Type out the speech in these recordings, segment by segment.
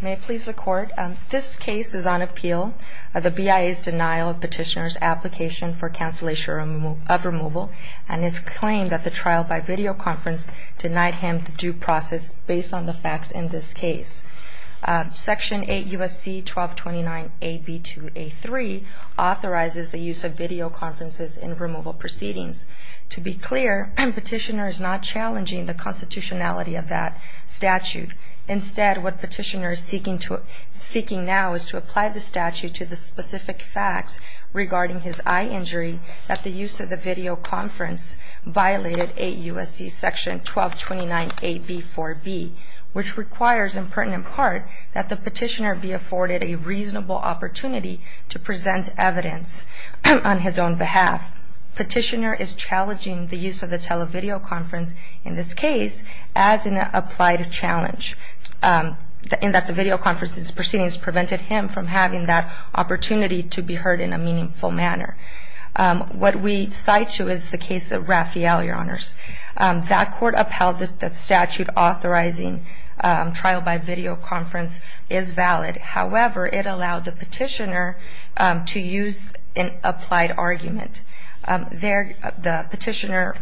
May it please the court, this case is on appeal of the BIA's denial of petitioner's application for cancellation of removal and his claim that the trial by video conference denied him the due process based on the facts in this case. Section 8 U.S.C. 1229 AB2A3 authorizes the use of video conferences in removal proceedings. To be clear, petitioner is not challenging the constitutionality of that statute. Instead, what petitioner is seeking now is to apply the statute to the specific facts regarding his eye injury that the use of the video conference violated 8 U.S.C. section 1229 AB4B, which requires in pertinent part that the petitioner be afforded a reasonable opportunity to present evidence on his own behalf. Petitioner is challenging the use of the televideo conference in this case as an applied challenge in that the video conference proceedings prevented him from having that opportunity to be heard in a meaningful manner. What we cite to is the case of Raphael, Your Honors. That court upheld that statute authorizing trial by video conference is valid. However, it allowed the petitioner to use an applied argument. There, the petitioner,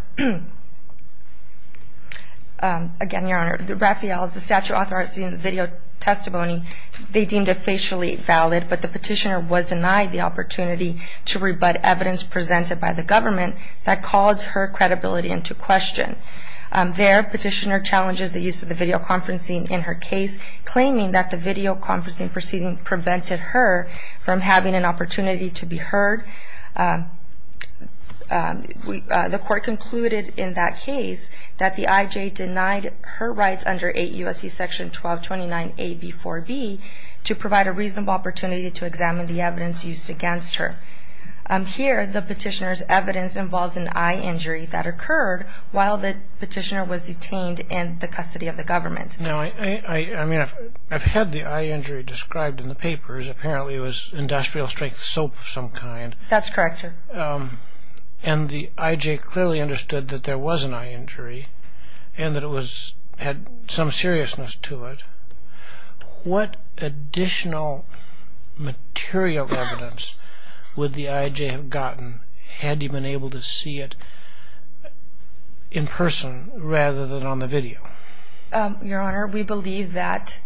again, Your Honor, the Raphael, the statute authorizing the video testimony, they deemed it facially valid, but the petitioner was denied the opportunity to rebut evidence presented by the government that calls her credibility into question. There, petitioner challenges the use of the videoconferencing in her case, claiming that the videoconferencing proceeding prevented her from having an opportunity to be heard. The court concluded in that case that the IJ denied her rights under 8 U.S.C. section 1229 AB4B to provide a reasonable opportunity to examine the evidence used against her. Here, the petitioner's evidence involves an eye injury that occurred while the petitioner was detained in the custody of the government. Now, I mean, I've had the eye injury described in the papers. Apparently, it was industrial strength soap of some kind. That's correct, Your Honor. And the IJ clearly understood that there was an eye injury and that it had some seriousness to it. What additional material evidence would the IJ have gotten had he been able to see it in person rather than on the video? Your Honor, we believe that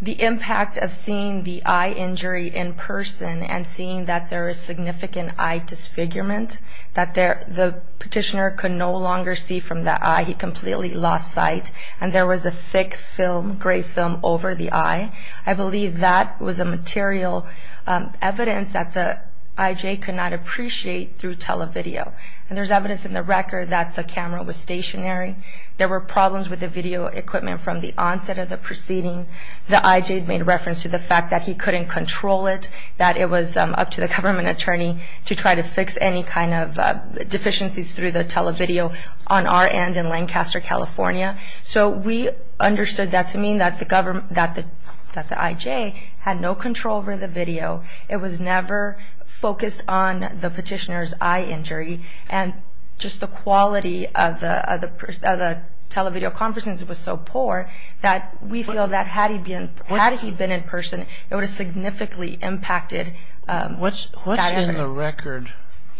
the impact of seeing the eye injury in person and seeing that there is significant eye disfigurement, that the petitioner could no longer see from the eye. He completely lost sight, and there was a thick film, gray film, over the eye. I believe that was a material evidence that the IJ could not appreciate through televideo. And there's evidence in the record that the camera was stationary. There were problems with the video equipment from the onset of the proceeding. The IJ made reference to the fact that he couldn't control it, that it was up to the government attorney to try to fix any kind of deficiencies through the televideo on our end in Lancaster, California. So we understood that to mean that the IJ had no control over the video. It was never focused on the petitioner's eye injury, and just the quality of the televideo conferencing was so poor that we feel that had he been in person, it would have significantly impacted that evidence. Is there a record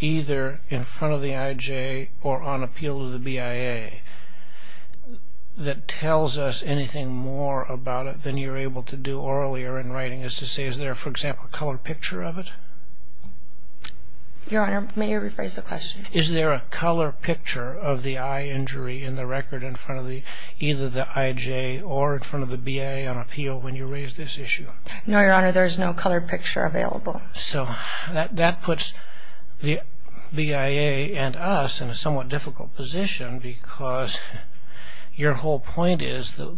either in front of the IJ or on appeal to the BIA that tells us anything more about it than you're able to do orally or in writing, as to say is there, for example, a color picture of it? Your Honor, may you rephrase the question? Is there a color picture of the eye injury in the record in front of either the IJ or in front of the BIA on appeal when you raise this issue? No, Your Honor, there is no color picture available. So that puts the BIA and us in a somewhat difficult position because your whole point is the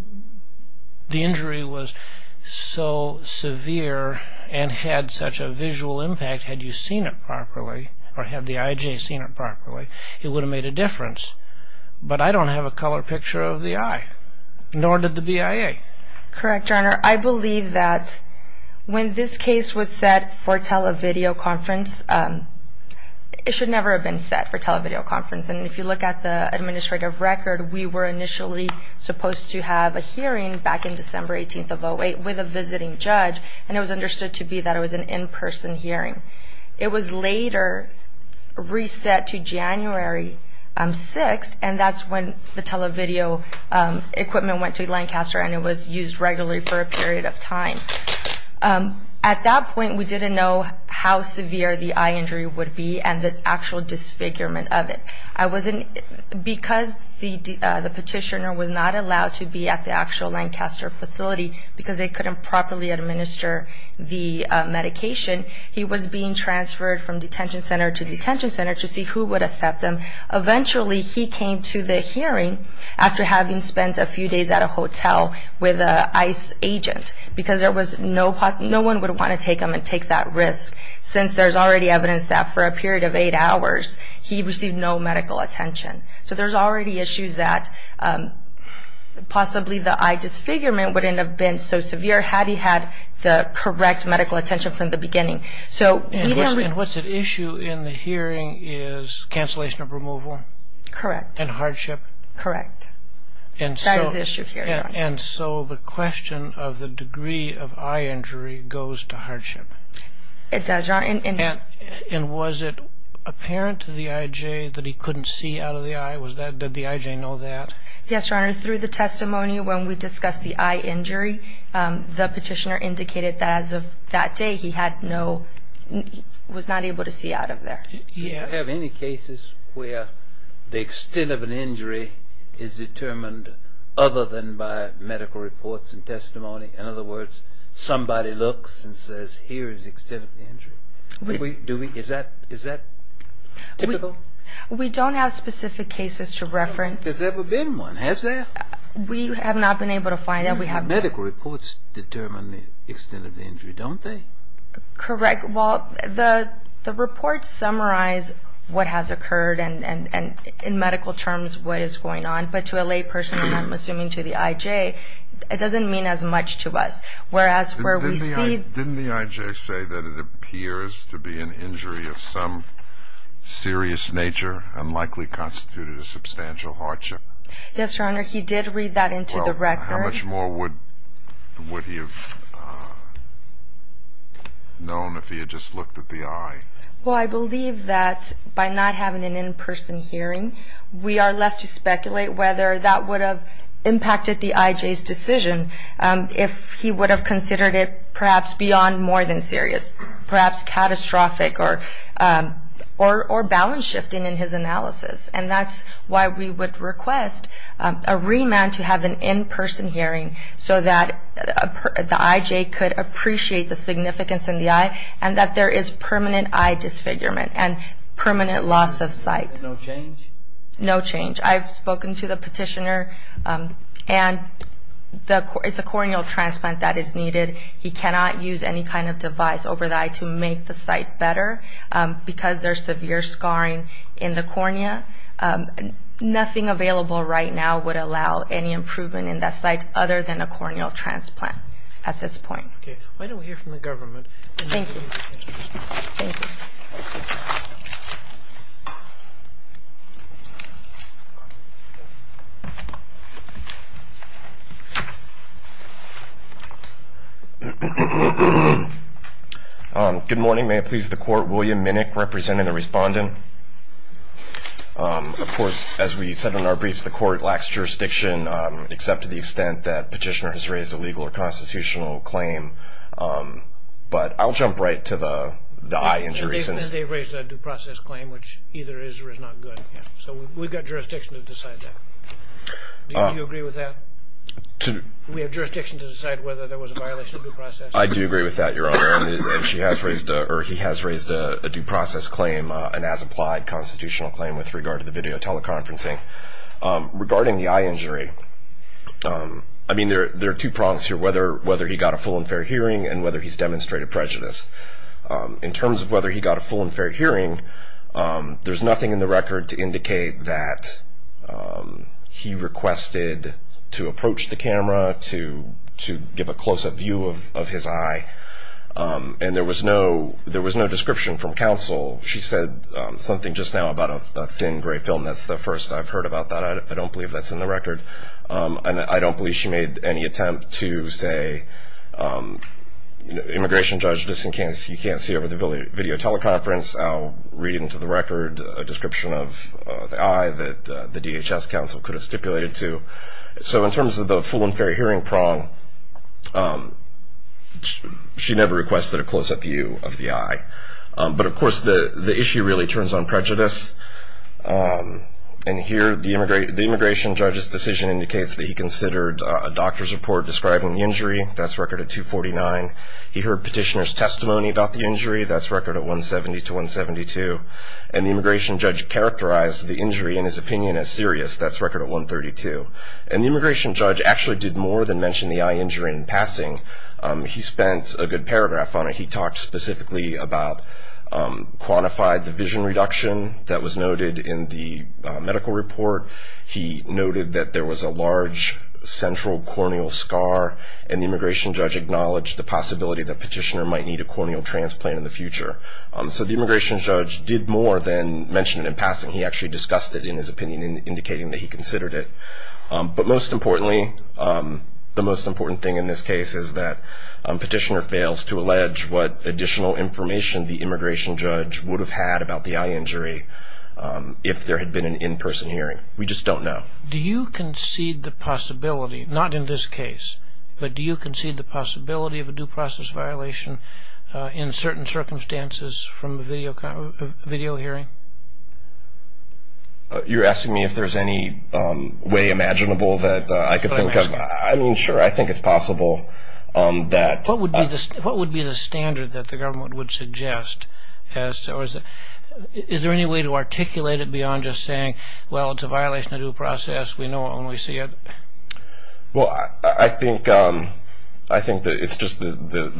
injury was so severe and had such a visual impact, had you seen it properly or had the IJ seen it properly, it would have made a difference. But I don't have a color picture of the eye, nor did the BIA. Correct, Your Honor. I believe that when this case was set for televideo conference, it should never have been set for televideo conference. And if you look at the administrative record, we were initially supposed to have a hearing back in December 18th of 2008 with a visiting judge, and it was understood to be that it was an in-person hearing. It was later reset to January 6th, and that's when the televideo equipment went to Lancaster and it was used regularly for a period of time. At that point, we didn't know how severe the eye injury would be and the actual disfigurement of it. Because the petitioner was not allowed to be at the actual Lancaster facility because they couldn't properly administer the medication, he was being transferred from detention center to detention center to see who would accept him. Eventually, he came to the hearing after having spent a few days at a hotel with an ICE agent because no one would want to take him and take that risk since there's already evidence that for a period of eight hours, he received no medical attention. So there's already issues that possibly the eye disfigurement wouldn't have been so severe had he had the correct medical attention from the beginning. And what's at issue in the hearing is cancellation of removal? Correct. And hardship? Correct. And so the question of the degree of eye injury goes to hardship. It does, Your Honor. And was it apparent to the IJ that he couldn't see out of the eye? Did the IJ know that? Yes, Your Honor. Through the testimony, when we discussed the eye injury, the petitioner indicated that as of that day, he was not able to see out of there. Do you have any cases where the extent of an injury is determined other than by medical reports and testimony? In other words, somebody looks and says, here is the extent of the injury. Is that typical? We don't have specific cases to reference. There's never been one, has there? We have not been able to find that. But medical reports determine the extent of the injury, don't they? Correct. Well, the reports summarize what has occurred and, in medical terms, what is going on. But to a lay person, and I'm assuming to the IJ, it doesn't mean as much to us. Didn't the IJ say that it appears to be an injury of some serious nature and likely constituted a substantial hardship? Yes, Your Honor. He did read that into the record. How much more would he have known if he had just looked at the eye? Well, I believe that by not having an in-person hearing, we are left to speculate whether that would have impacted the IJ's decision if he would have considered it perhaps beyond more than serious, perhaps catastrophic or balance-shifting in his analysis. And that's why we would request a remand to have an in-person hearing so that the IJ could appreciate the significance in the eye and that there is permanent eye disfigurement and permanent loss of sight. No change? No change. I've spoken to the petitioner, and it's a corneal transplant that is needed. He cannot use any kind of device over the eye to make the sight better because there's severe scarring in the cornea. Nothing available right now would allow any improvement in that sight other than a corneal transplant at this point. Okay. Why don't we hear from the government? Thank you. Thank you. Good morning. May it please the Court, William Minnick representing the respondent. Of course, as we said in our brief, the Court lacks jurisdiction, except to the extent that petitioner has raised a legal or constitutional claim. But I'll jump right to the eye injuries. They've raised a due process claim, which either is or is not good. So we've got jurisdiction to decide that. Do you agree with that? We have jurisdiction to decide whether there was a violation of due process. I do agree with that, Your Honor. And he has raised a due process claim, an as-applied constitutional claim with regard to the video teleconferencing. Regarding the eye injury, I mean, there are two prongs here, whether he got a full and fair hearing and whether he's demonstrated prejudice. In terms of whether he got a full and fair hearing, there's nothing in the record to indicate that he requested to approach the camera, to give a close-up view of his eye. And there was no description from counsel. She said something just now about a thin gray film. That's the first I've heard about that. I don't believe that's in the record. And I don't believe she made any attempt to say, immigration judge, just in case you can't see over the video teleconference, I'll read into the record a description of the eye that the DHS counsel could have stipulated to. So in terms of the full and fair hearing prong, she never requested a close-up view of the eye. But, of course, the issue really turns on prejudice. And here the immigration judge's decision indicates that he considered a doctor's report describing the injury. That's record at 249. He heard petitioner's testimony about the injury. That's record at 170 to 172. And the immigration judge characterized the injury, in his opinion, as serious. That's record at 132. And the immigration judge actually did more than mention the eye injury in passing. He spent a good paragraph on it. He talked specifically about quantified division reduction that was noted in the medical report. He noted that there was a large central corneal scar. And the immigration judge acknowledged the possibility that petitioner might need a corneal transplant in the future. So the immigration judge did more than mention it in passing. He actually discussed it, in his opinion, indicating that he considered it. But most importantly, the most important thing in this case is that petitioner fails to allege what additional information the immigration judge would have had about the eye injury if there had been an in-person hearing. We just don't know. Do you concede the possibility, not in this case, but do you concede the possibility of a due process violation in certain circumstances from a video hearing? You're asking me if there's any way imaginable that I could think of? I mean, sure, I think it's possible that – What would be the standard that the government would suggest? Is there any way to articulate it beyond just saying, well, it's a violation of due process, we know it when we see it? Well, I think the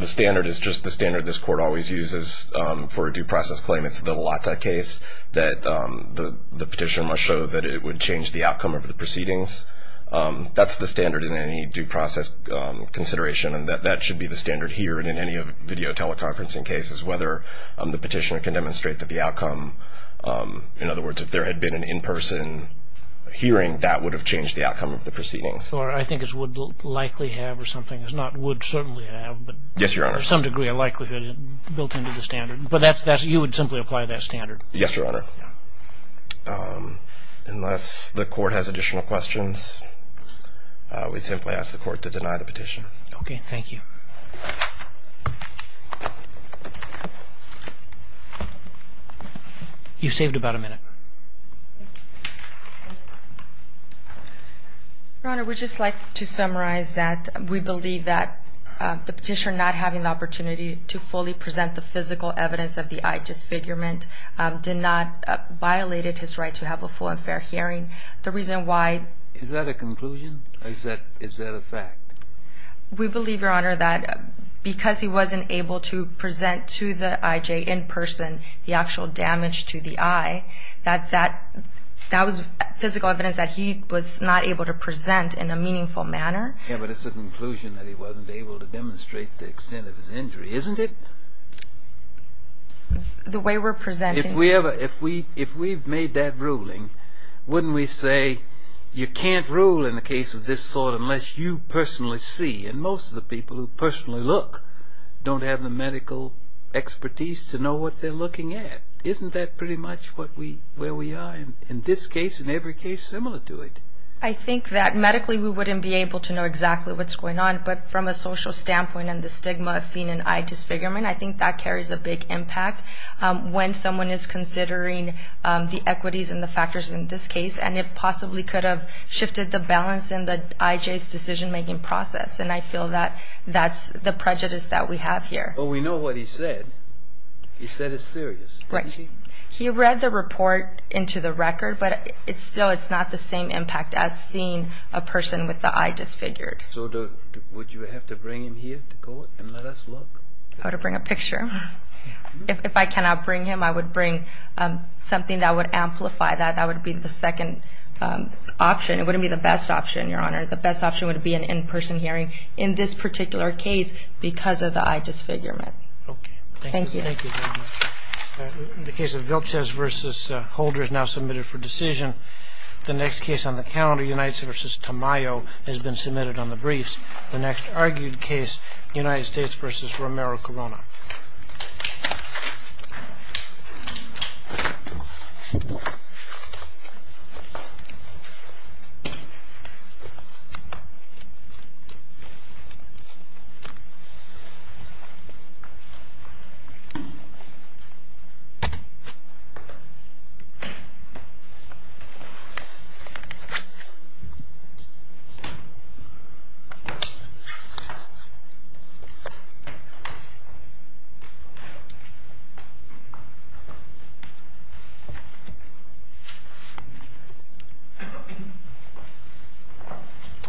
standard is just the standard this court always uses for a due process claim. It's the Lata case that the petitioner must show that it would change the outcome of the proceedings. That's the standard in any due process consideration, and that should be the standard here and in any video teleconferencing cases, whether the petitioner can demonstrate that the outcome – in other words, if there had been an in-person hearing, that would have changed the outcome of the proceedings. Or I think it would likely have or something. It's not would certainly have, but to some degree a likelihood built into the standard. But you would simply apply that standard? Yes, Your Honor. Unless the court has additional questions, we'd simply ask the court to deny the petition. Okay, thank you. You've saved about a minute. Your Honor, we'd just like to summarize that we believe that the petitioner not having the opportunity to fully present the physical evidence of the eye disfigurement did not violate his right to have a full and fair hearing. The reason why – Is that a conclusion or is that a fact? We believe, Your Honor, that because he wasn't able to present to the I.J. in person the actual damage to the eye, that that was physical evidence that he was not able to present in a meaningful manner. Yeah, but it's a conclusion that he wasn't able to demonstrate the extent of his injury, isn't it? The way we're presenting – If we've made that ruling, wouldn't we say you can't rule in a case of this sort unless you personally see, and most of the people who personally look don't have the medical expertise to know what they're looking at? Isn't that pretty much where we are in this case and every case similar to it? I think that medically we wouldn't be able to know exactly what's going on, but from a social standpoint and the stigma of seeing an eye disfigurement, I think that carries a big impact. When someone is considering the equities and the factors in this case, and it possibly could have shifted the balance in the I.J.'s decision-making process, and I feel that that's the prejudice that we have here. But we know what he said. He said it's serious, didn't he? He read the report into the record, but still it's not the same impact as seeing a person with the eye disfigured. So would you have to bring him here to court and let us look? I would bring a picture. If I cannot bring him, I would bring something that would amplify that. That would be the second option. It wouldn't be the best option, Your Honor. The best option would be an in-person hearing in this particular case because of the eye disfigurement. Okay. Thank you. Thank you very much. The case of Vilches v. Holder is now submitted for decision. The next case on the calendar, Unites v. Tamayo, has been submitted on the briefs. The next argued case, Unites v. Romero-Corona.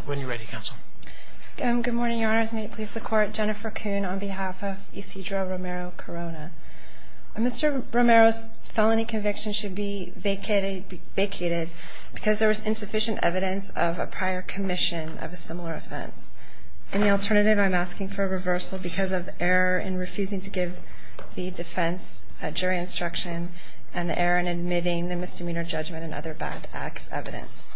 When you're ready, counsel. Good morning, Your Honors. May it please the Court, Jennifer Kuhn on behalf of Isidro Romero-Corona. Mr. Romero's felony conviction should be vacated because there was insufficient evidence of a prior commission of a similar offense. In the alternative, I'm asking for a reversal because of error in refusing to give the defense a jury instruction and the error in admitting the misdemeanor judgment and other bad acts evidence.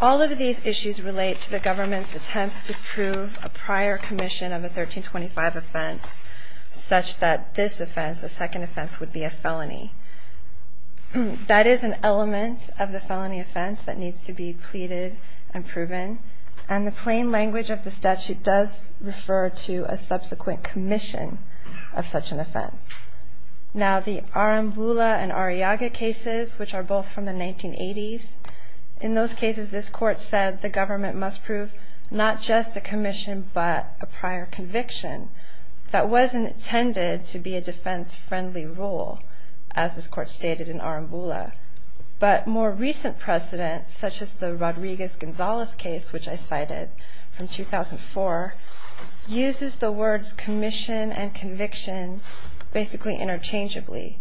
All of these issues relate to the government's attempts to prove a prior commission of a 1325 offense such that this offense, the second offense, would be a felony. That is an element of the felony offense that needs to be pleaded and proven. And the plain language of the statute does refer to a subsequent commission of such an offense. Now, the Arambula and Arriaga cases, which are both from the 1980s, in those cases this Court said the government must prove not just a commission but a prior conviction that was intended to be a defense-friendly rule, as this Court stated in Arambula. But more recent precedents, such as the Rodriguez-Gonzalez case, which I cited from 2004, uses the words commission and conviction basically interchangeably.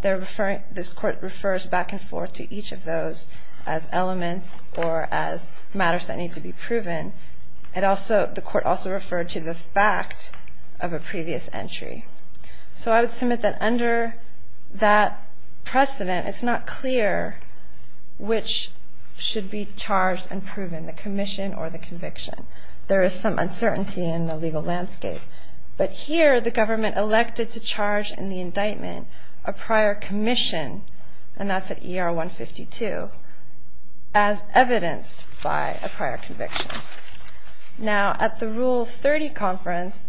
This Court refers back and forth to each of those as elements or as matters that need to be proven. The Court also referred to the fact of a previous entry. So I would submit that under that precedent it's not clear which should be charged and proven, the commission or the conviction. There is some uncertainty in the legal landscape. But here the government elected to charge in the indictment a prior commission, and that's at ER 152, as evidenced by a prior conviction. Now, at the Rule 30 conference,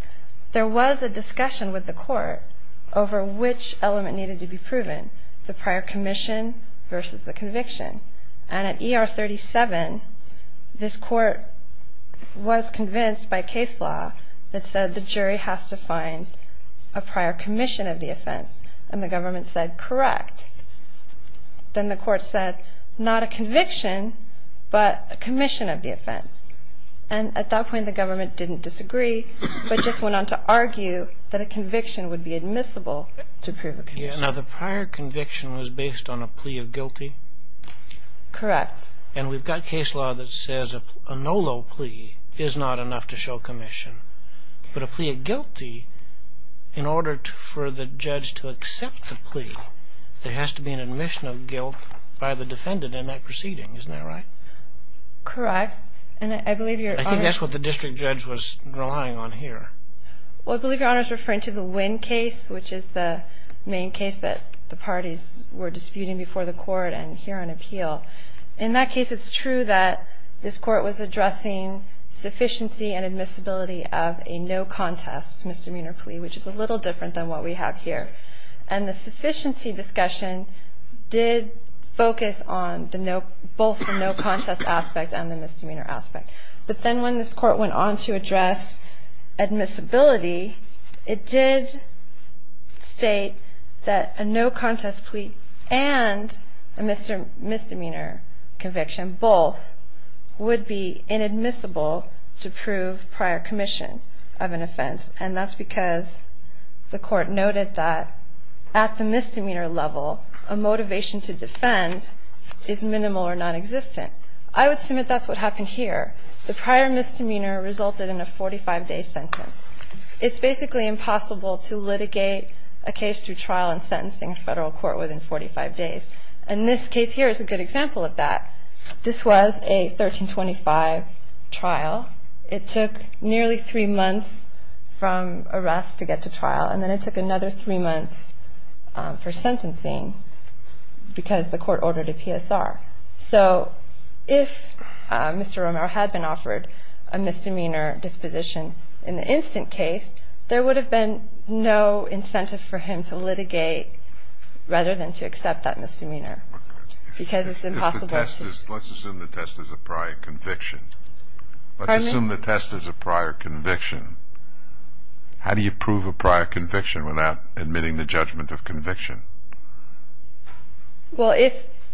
there was a discussion with the Court over which element needed to be proven, the prior commission versus the conviction. And at ER 37, this Court was convinced by case law that said the jury has to find a prior commission of the offense, and the government said correct. Then the Court said, not a conviction, but a commission of the offense. And at that point the government didn't disagree, but just went on to argue that a conviction would be admissible to prove a conviction. Now, the prior conviction was based on a plea of guilty? Correct. And we've got case law that says a no-law plea is not enough to show commission. But a plea of guilty, in order for the judge to accept the plea, there has to be an admission of guilt by the defendant in that proceeding. Isn't that right? Correct. I think that's what the district judge was relying on here. Well, I believe Your Honor is referring to the Wynn case, which is the main case that the parties were disputing before the Court and here on appeal. In that case, it's true that this Court was addressing sufficiency and admissibility of a no-contest misdemeanor plea, which is a little different than what we have here. And the sufficiency discussion did focus on both the no-contest aspect and the misdemeanor aspect. But then when this Court went on to address admissibility, it did state that a no-contest plea and a misdemeanor conviction, both, would be inadmissible to prove prior commission of an offense. And that's because the Court noted that at the misdemeanor level, a motivation to defend is minimal or nonexistent. I would assume that that's what happened here. The prior misdemeanor resulted in a 45-day sentence. It's basically impossible to litigate a case through trial and sentencing in a federal court within 45 days. And this case here is a good example of that. This was a 1325 trial. It took nearly three months from arrest to get to trial, and then it took another three months for sentencing because the Court ordered a PSR. So if Mr. Romero had been offered a misdemeanor disposition in the instant case, there would have been no incentive for him to litigate rather than to accept that misdemeanor because it's impossible to... Let's assume the test is a prior conviction. Pardon me? Let's assume the test is a prior conviction. Well,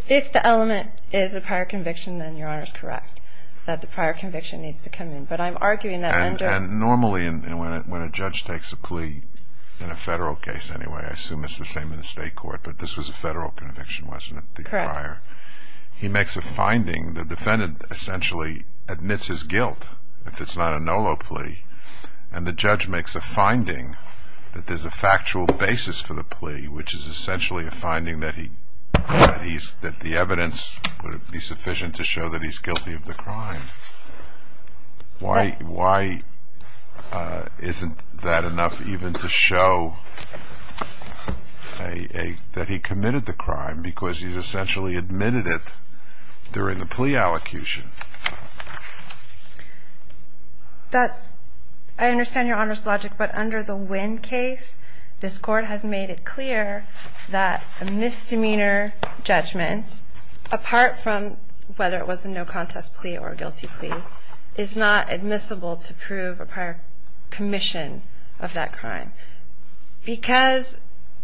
if the element is a prior conviction, then Your Honor is correct, that the prior conviction needs to come in. But I'm arguing that under... And normally when a judge takes a plea, in a federal case anyway, I assume it's the same in the state court, but this was a federal conviction, wasn't it, the prior? Correct. He makes a finding. The defendant essentially admits his guilt if it's not a NOLO plea, and the judge makes a finding that there's a factual basis for the plea, which is essentially a finding that the evidence would be sufficient to show that he's guilty of the crime. Why isn't that enough even to show that he committed the crime because he's essentially admitted it during the plea allocution? That's... I understand Your Honor's logic, but under the Winn case, this Court has made it clear that a misdemeanor judgment, apart from whether it was a no-contest plea or a guilty plea, is not admissible to prove a prior commission of that crime because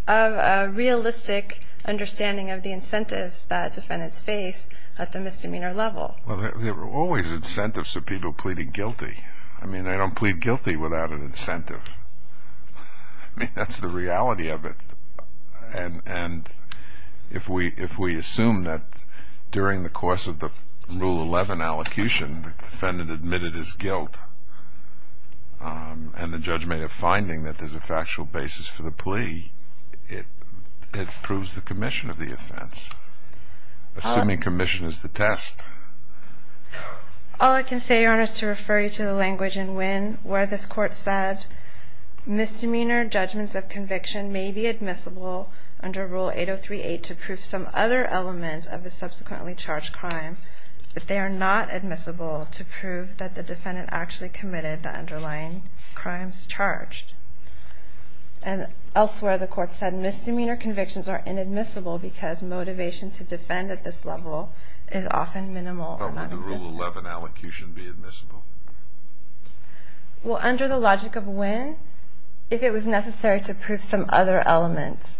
of a realistic understanding of the incentives that defendants face at the misdemeanor level. Well, there are always incentives to people pleading guilty. I mean, they don't plead guilty without an incentive. I mean, that's the reality of it. And if we assume that during the course of the Rule 11 allocation, the defendant admitted his guilt, and the judge made a finding that there's a factual basis for the plea, it proves the commission of the offense. Assuming commission is the test. All I can say, Your Honor, is to refer you to the language in Winn where this Court said, misdemeanor judgments of conviction may be admissible under Rule 8038 to prove some other element of the subsequently charged crime, but they are not admissible to prove that the defendant actually committed the underlying crimes charged. And elsewhere, the Court said misdemeanor convictions are inadmissible because motivation to defend at this level is often minimal. But would the Rule 11 allocution be admissible? Well, under the logic of Winn, if it was necessary to prove some other element,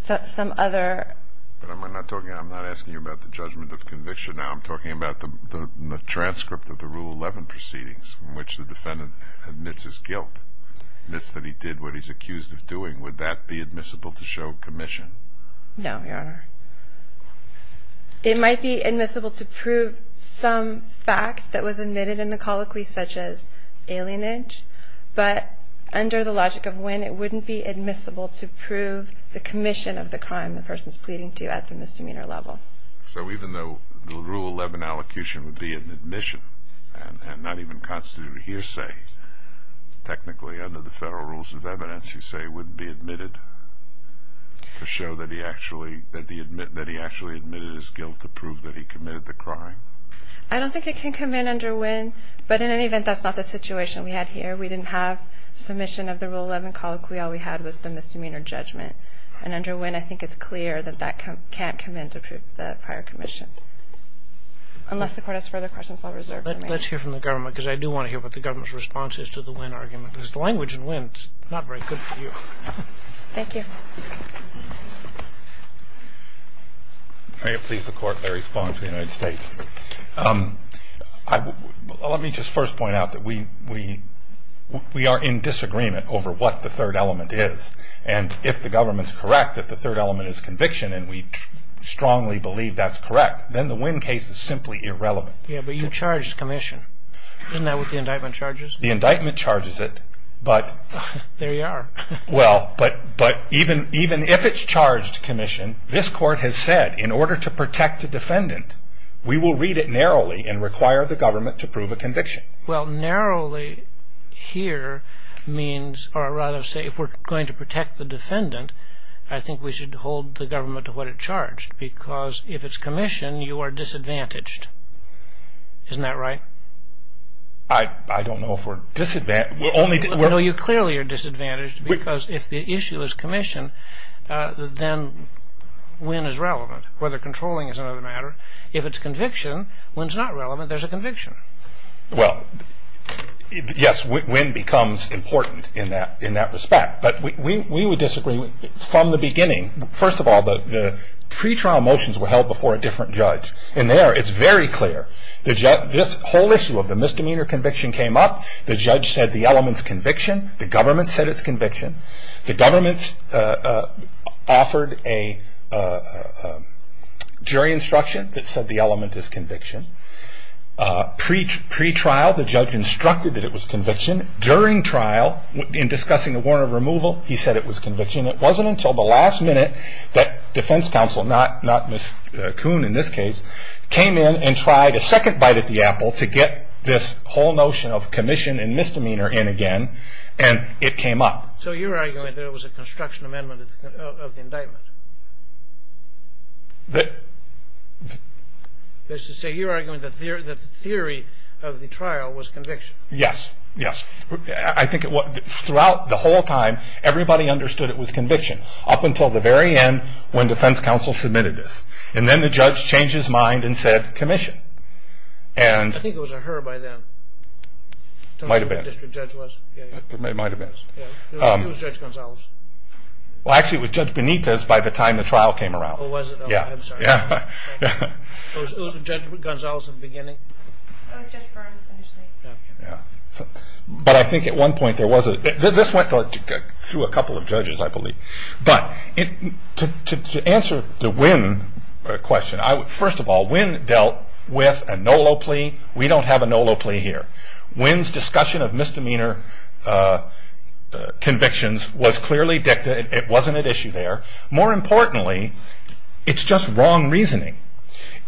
some other... But I'm not talking... I'm not asking you about the judgment of conviction. I'm talking about the transcript of the Rule 11 proceedings in which the defendant admits his guilt, admits that he did what he's accused of doing. Would that be admissible to show commission? No, Your Honor. It might be admissible to prove some fact that was admitted in the colloquy, such as alienage. But under the logic of Winn, it wouldn't be admissible to prove the commission of the crime the person is pleading to at the misdemeanor level. So even though the Rule 11 allocution would be an admission and not even constitute a hearsay, technically under the federal rules of evidence, you say it wouldn't be admitted to show that he actually admitted his guilt to prove that he committed the crime? I don't think it can come in under Winn. But in any event, that's not the situation we had here. We didn't have submission of the Rule 11 colloquy. All we had was the misdemeanor judgment. And under Winn, I think it's clear that that can't come in to prove the prior commission, unless the Court has further questions. I'll reserve them. Let's hear from the government, because I do want to hear what the government's response is to the Winn argument, because the language in Winn is not very good for you. Thank you. May it please the Court, Larry Fong for the United States. Let me just first point out that we are in disagreement over what the third element is. And if the government is correct that the third element is conviction, and we strongly believe that's correct, then the Winn case is simply irrelevant. Yeah, but you charged commission. Isn't that what the indictment charges? The indictment charges it, but... There you are. Well, but even if it's charged commission, this Court has said, in order to protect the defendant, we will read it narrowly and require the government to prove a conviction. Well, narrowly here means, or rather say, if we're going to protect the defendant, I think we should hold the government to what it charged, because if it's commission, you are disadvantaged. Isn't that right? I don't know if we're disadvantaged. No, you clearly are disadvantaged, because if the issue is commission, then Winn is relevant, whether controlling is another matter. If it's conviction, Winn's not relevant. There's a conviction. Well, yes, Winn becomes important in that respect. But we would disagree. From the beginning, first of all, the pretrial motions were held before a different judge, and there it's very clear. This whole issue of the misdemeanor conviction came up. The judge said the element's conviction. The government said it's conviction. The government offered a jury instruction that said the element is conviction. Pretrial, the judge instructed that it was conviction. During trial, in discussing the warrant of removal, he said it was conviction. It wasn't until the last minute that defense counsel, not Ms. Kuhn in this case, came in and tried a second bite at the apple to get this whole notion of commission and misdemeanor in again, and it came up. So you're arguing that it was a construction amendment of the indictment? So you're arguing that the theory of the trial was conviction? Yes, yes. Throughout the whole time, everybody understood it was conviction, up until the very end when defense counsel submitted this. And then the judge changed his mind and said commission. I think it was a her by then. Might have been. It was Judge Gonzalez. Well, actually, it was Judge Benitez by the time the trial came around. Oh, was it? I'm sorry. It was Judge Gonzalez in the beginning? It was Judge Burns initially. But I think at one point there was a – this went through a couple of judges, I believe. But to answer the Winn question, first of all, Winn dealt with a NOLO plea. We don't have a NOLO plea here. Winn's discussion of misdemeanor convictions was clearly – it wasn't at issue there. More importantly, it's just wrong reasoning.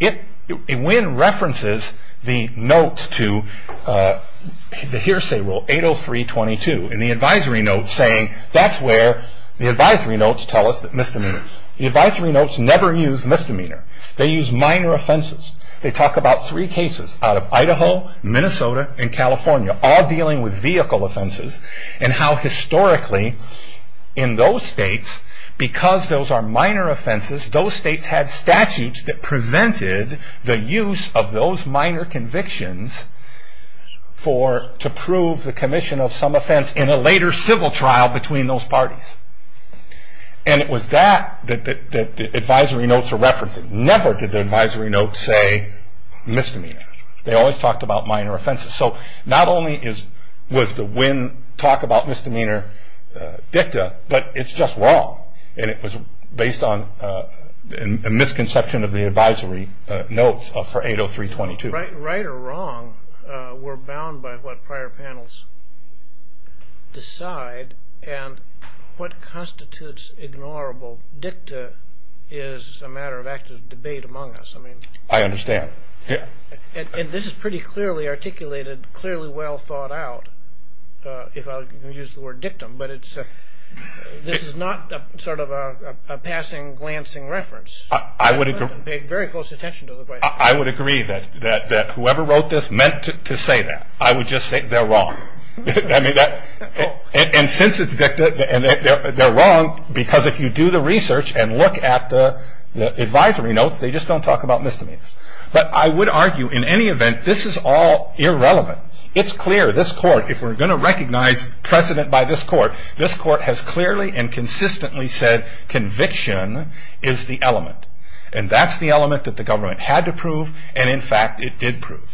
Winn references the notes to the hearsay rule 803.22 in the advisory notes saying that's where the advisory notes tell us misdemeanor. The advisory notes never use misdemeanor. They use minor offenses. They talk about three cases out of Idaho, Minnesota, and California, all dealing with vehicle offenses and how historically in those states, because those are minor offenses, those states had statutes that prevented the use of those minor convictions to prove the commission of some offense in a later civil trial between those parties. And it was that that the advisory notes are referencing. Never did the advisory notes say misdemeanor. They always talked about minor offenses. So not only was the Winn talk about misdemeanor dicta, but it's just wrong, and it was based on a misconception of the advisory notes for 803.22. Right or wrong were bound by what prior panels decide, and what constitutes ignorable dicta is a matter of active debate among us. I understand. And this is pretty clearly articulated, clearly well thought out, if I can use the word dictum, but this is not sort of a passing, glancing reference. I would agree that whoever wrote this meant to say that. I would just say they're wrong. And since it's dicta, they're wrong because if you do the research and look at the advisory notes, they just don't talk about misdemeanors. But I would argue in any event, this is all irrelevant. It's clear this court, if we're going to recognize precedent by this court, this court has clearly and consistently said conviction is the element. And that's the element that the government had to prove, and in fact it did prove.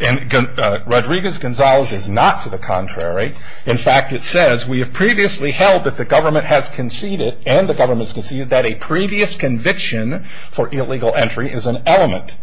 And Rodriguez-Gonzalez is not to the contrary. In fact, it says we have previously held that the government has conceded, and the government has conceded that a previous conviction for illegal entry is an element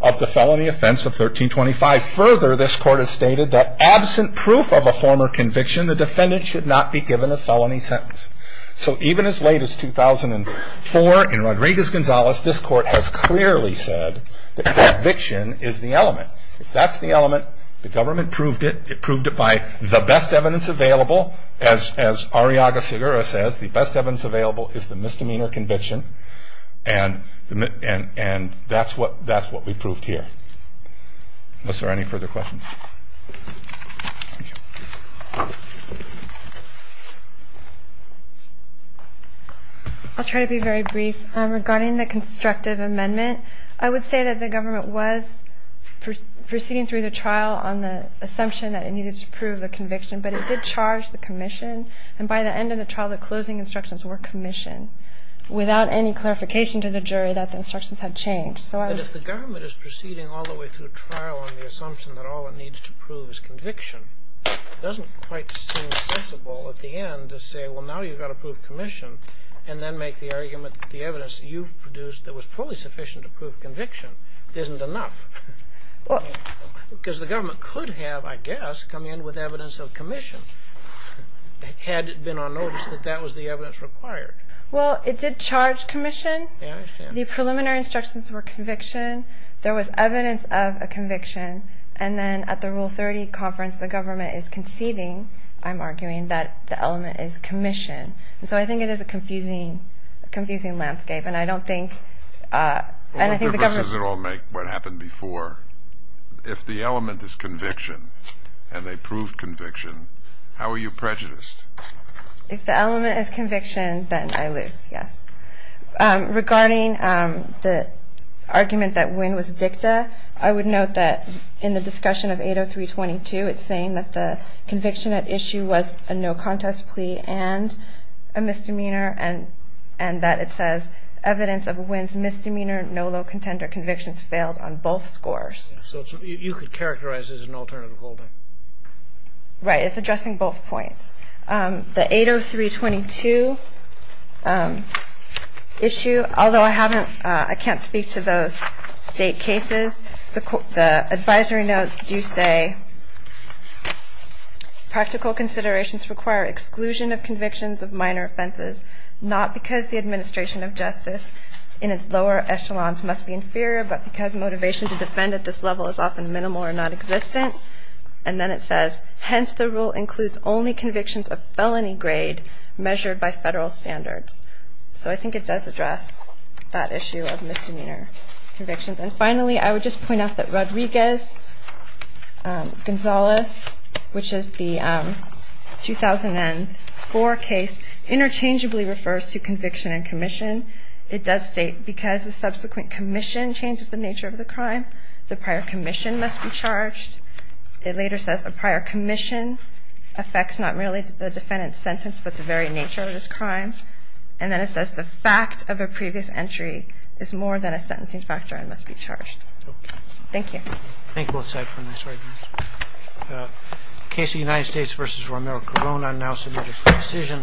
of the felony offense of 1325. Further, this court has stated that absent proof of a former conviction, the defendant should not be given a felony sentence. So even as late as 2004 in Rodriguez-Gonzalez, this court has clearly said that conviction is the element. If that's the element, the government proved it. It proved it by the best evidence available. As Ariaga-Segura says, the best evidence available is the misdemeanor conviction, and that's what we proved here. Are there any further questions? I'll try to be very brief. Regarding the constructive amendment, I would say that the government was proceeding through the trial on the assumption that it needed to prove the conviction, but it did charge the commission. And by the end of the trial, the closing instructions were commissioned without any clarification to the jury that the instructions had changed. But if the government is proceeding all the way through trial on the assumption that all it needs to prove is conviction, it doesn't quite seem sensible at the end to say, well, now you've got to prove commission and then make the argument that the evidence that you've produced that was fully sufficient to prove conviction isn't enough. Because the government could have, I guess, come in with evidence of commission had it been on notice that that was the evidence required. Well, it did charge commission. The preliminary instructions were conviction. There was evidence of a conviction. And then at the Rule 30 conference, the government is conceding, I'm arguing, that the element is commission. And so I think it is a confusing landscape, and I don't think the government Why does it all make what happened before? If the element is conviction, and they proved conviction, how are you prejudiced? If the element is conviction, then I lose, yes. Regarding the argument that Wynne was dicta, I would note that in the discussion of 803.22, it's saying that the conviction at issue was a no-contest plea and a misdemeanor, and that it says evidence of Wynne's misdemeanor, no low contender convictions, failed on both scores. So you could characterize it as an alternative holding? Right. It's addressing both points. The 803.22 issue, although I can't speak to those state cases, the advisory notes do say, Practical considerations require exclusion of convictions of minor offenses, not because the administration of justice in its lower echelons must be inferior, but because motivation to defend at this level is often minimal or nonexistent. And then it says, Hence, the rule includes only convictions of felony grade measured by federal standards. So I think it does address that issue of misdemeanor convictions. And finally, I would just point out that Rodriguez-Gonzalez, which is the 2000-N-4 case, interchangeably refers to conviction and commission. It does state, Because the subsequent commission changes the nature of the crime, the prior commission must be charged. It later says, A prior commission affects not merely the defendant's sentence, but the very nature of this crime. And then it says, Because the fact of a previous entry is more than a sentencing factor and must be charged. Thank you. Thank you both sides for this argument. The case of the United States v. Romero-Corona now submitted for decision.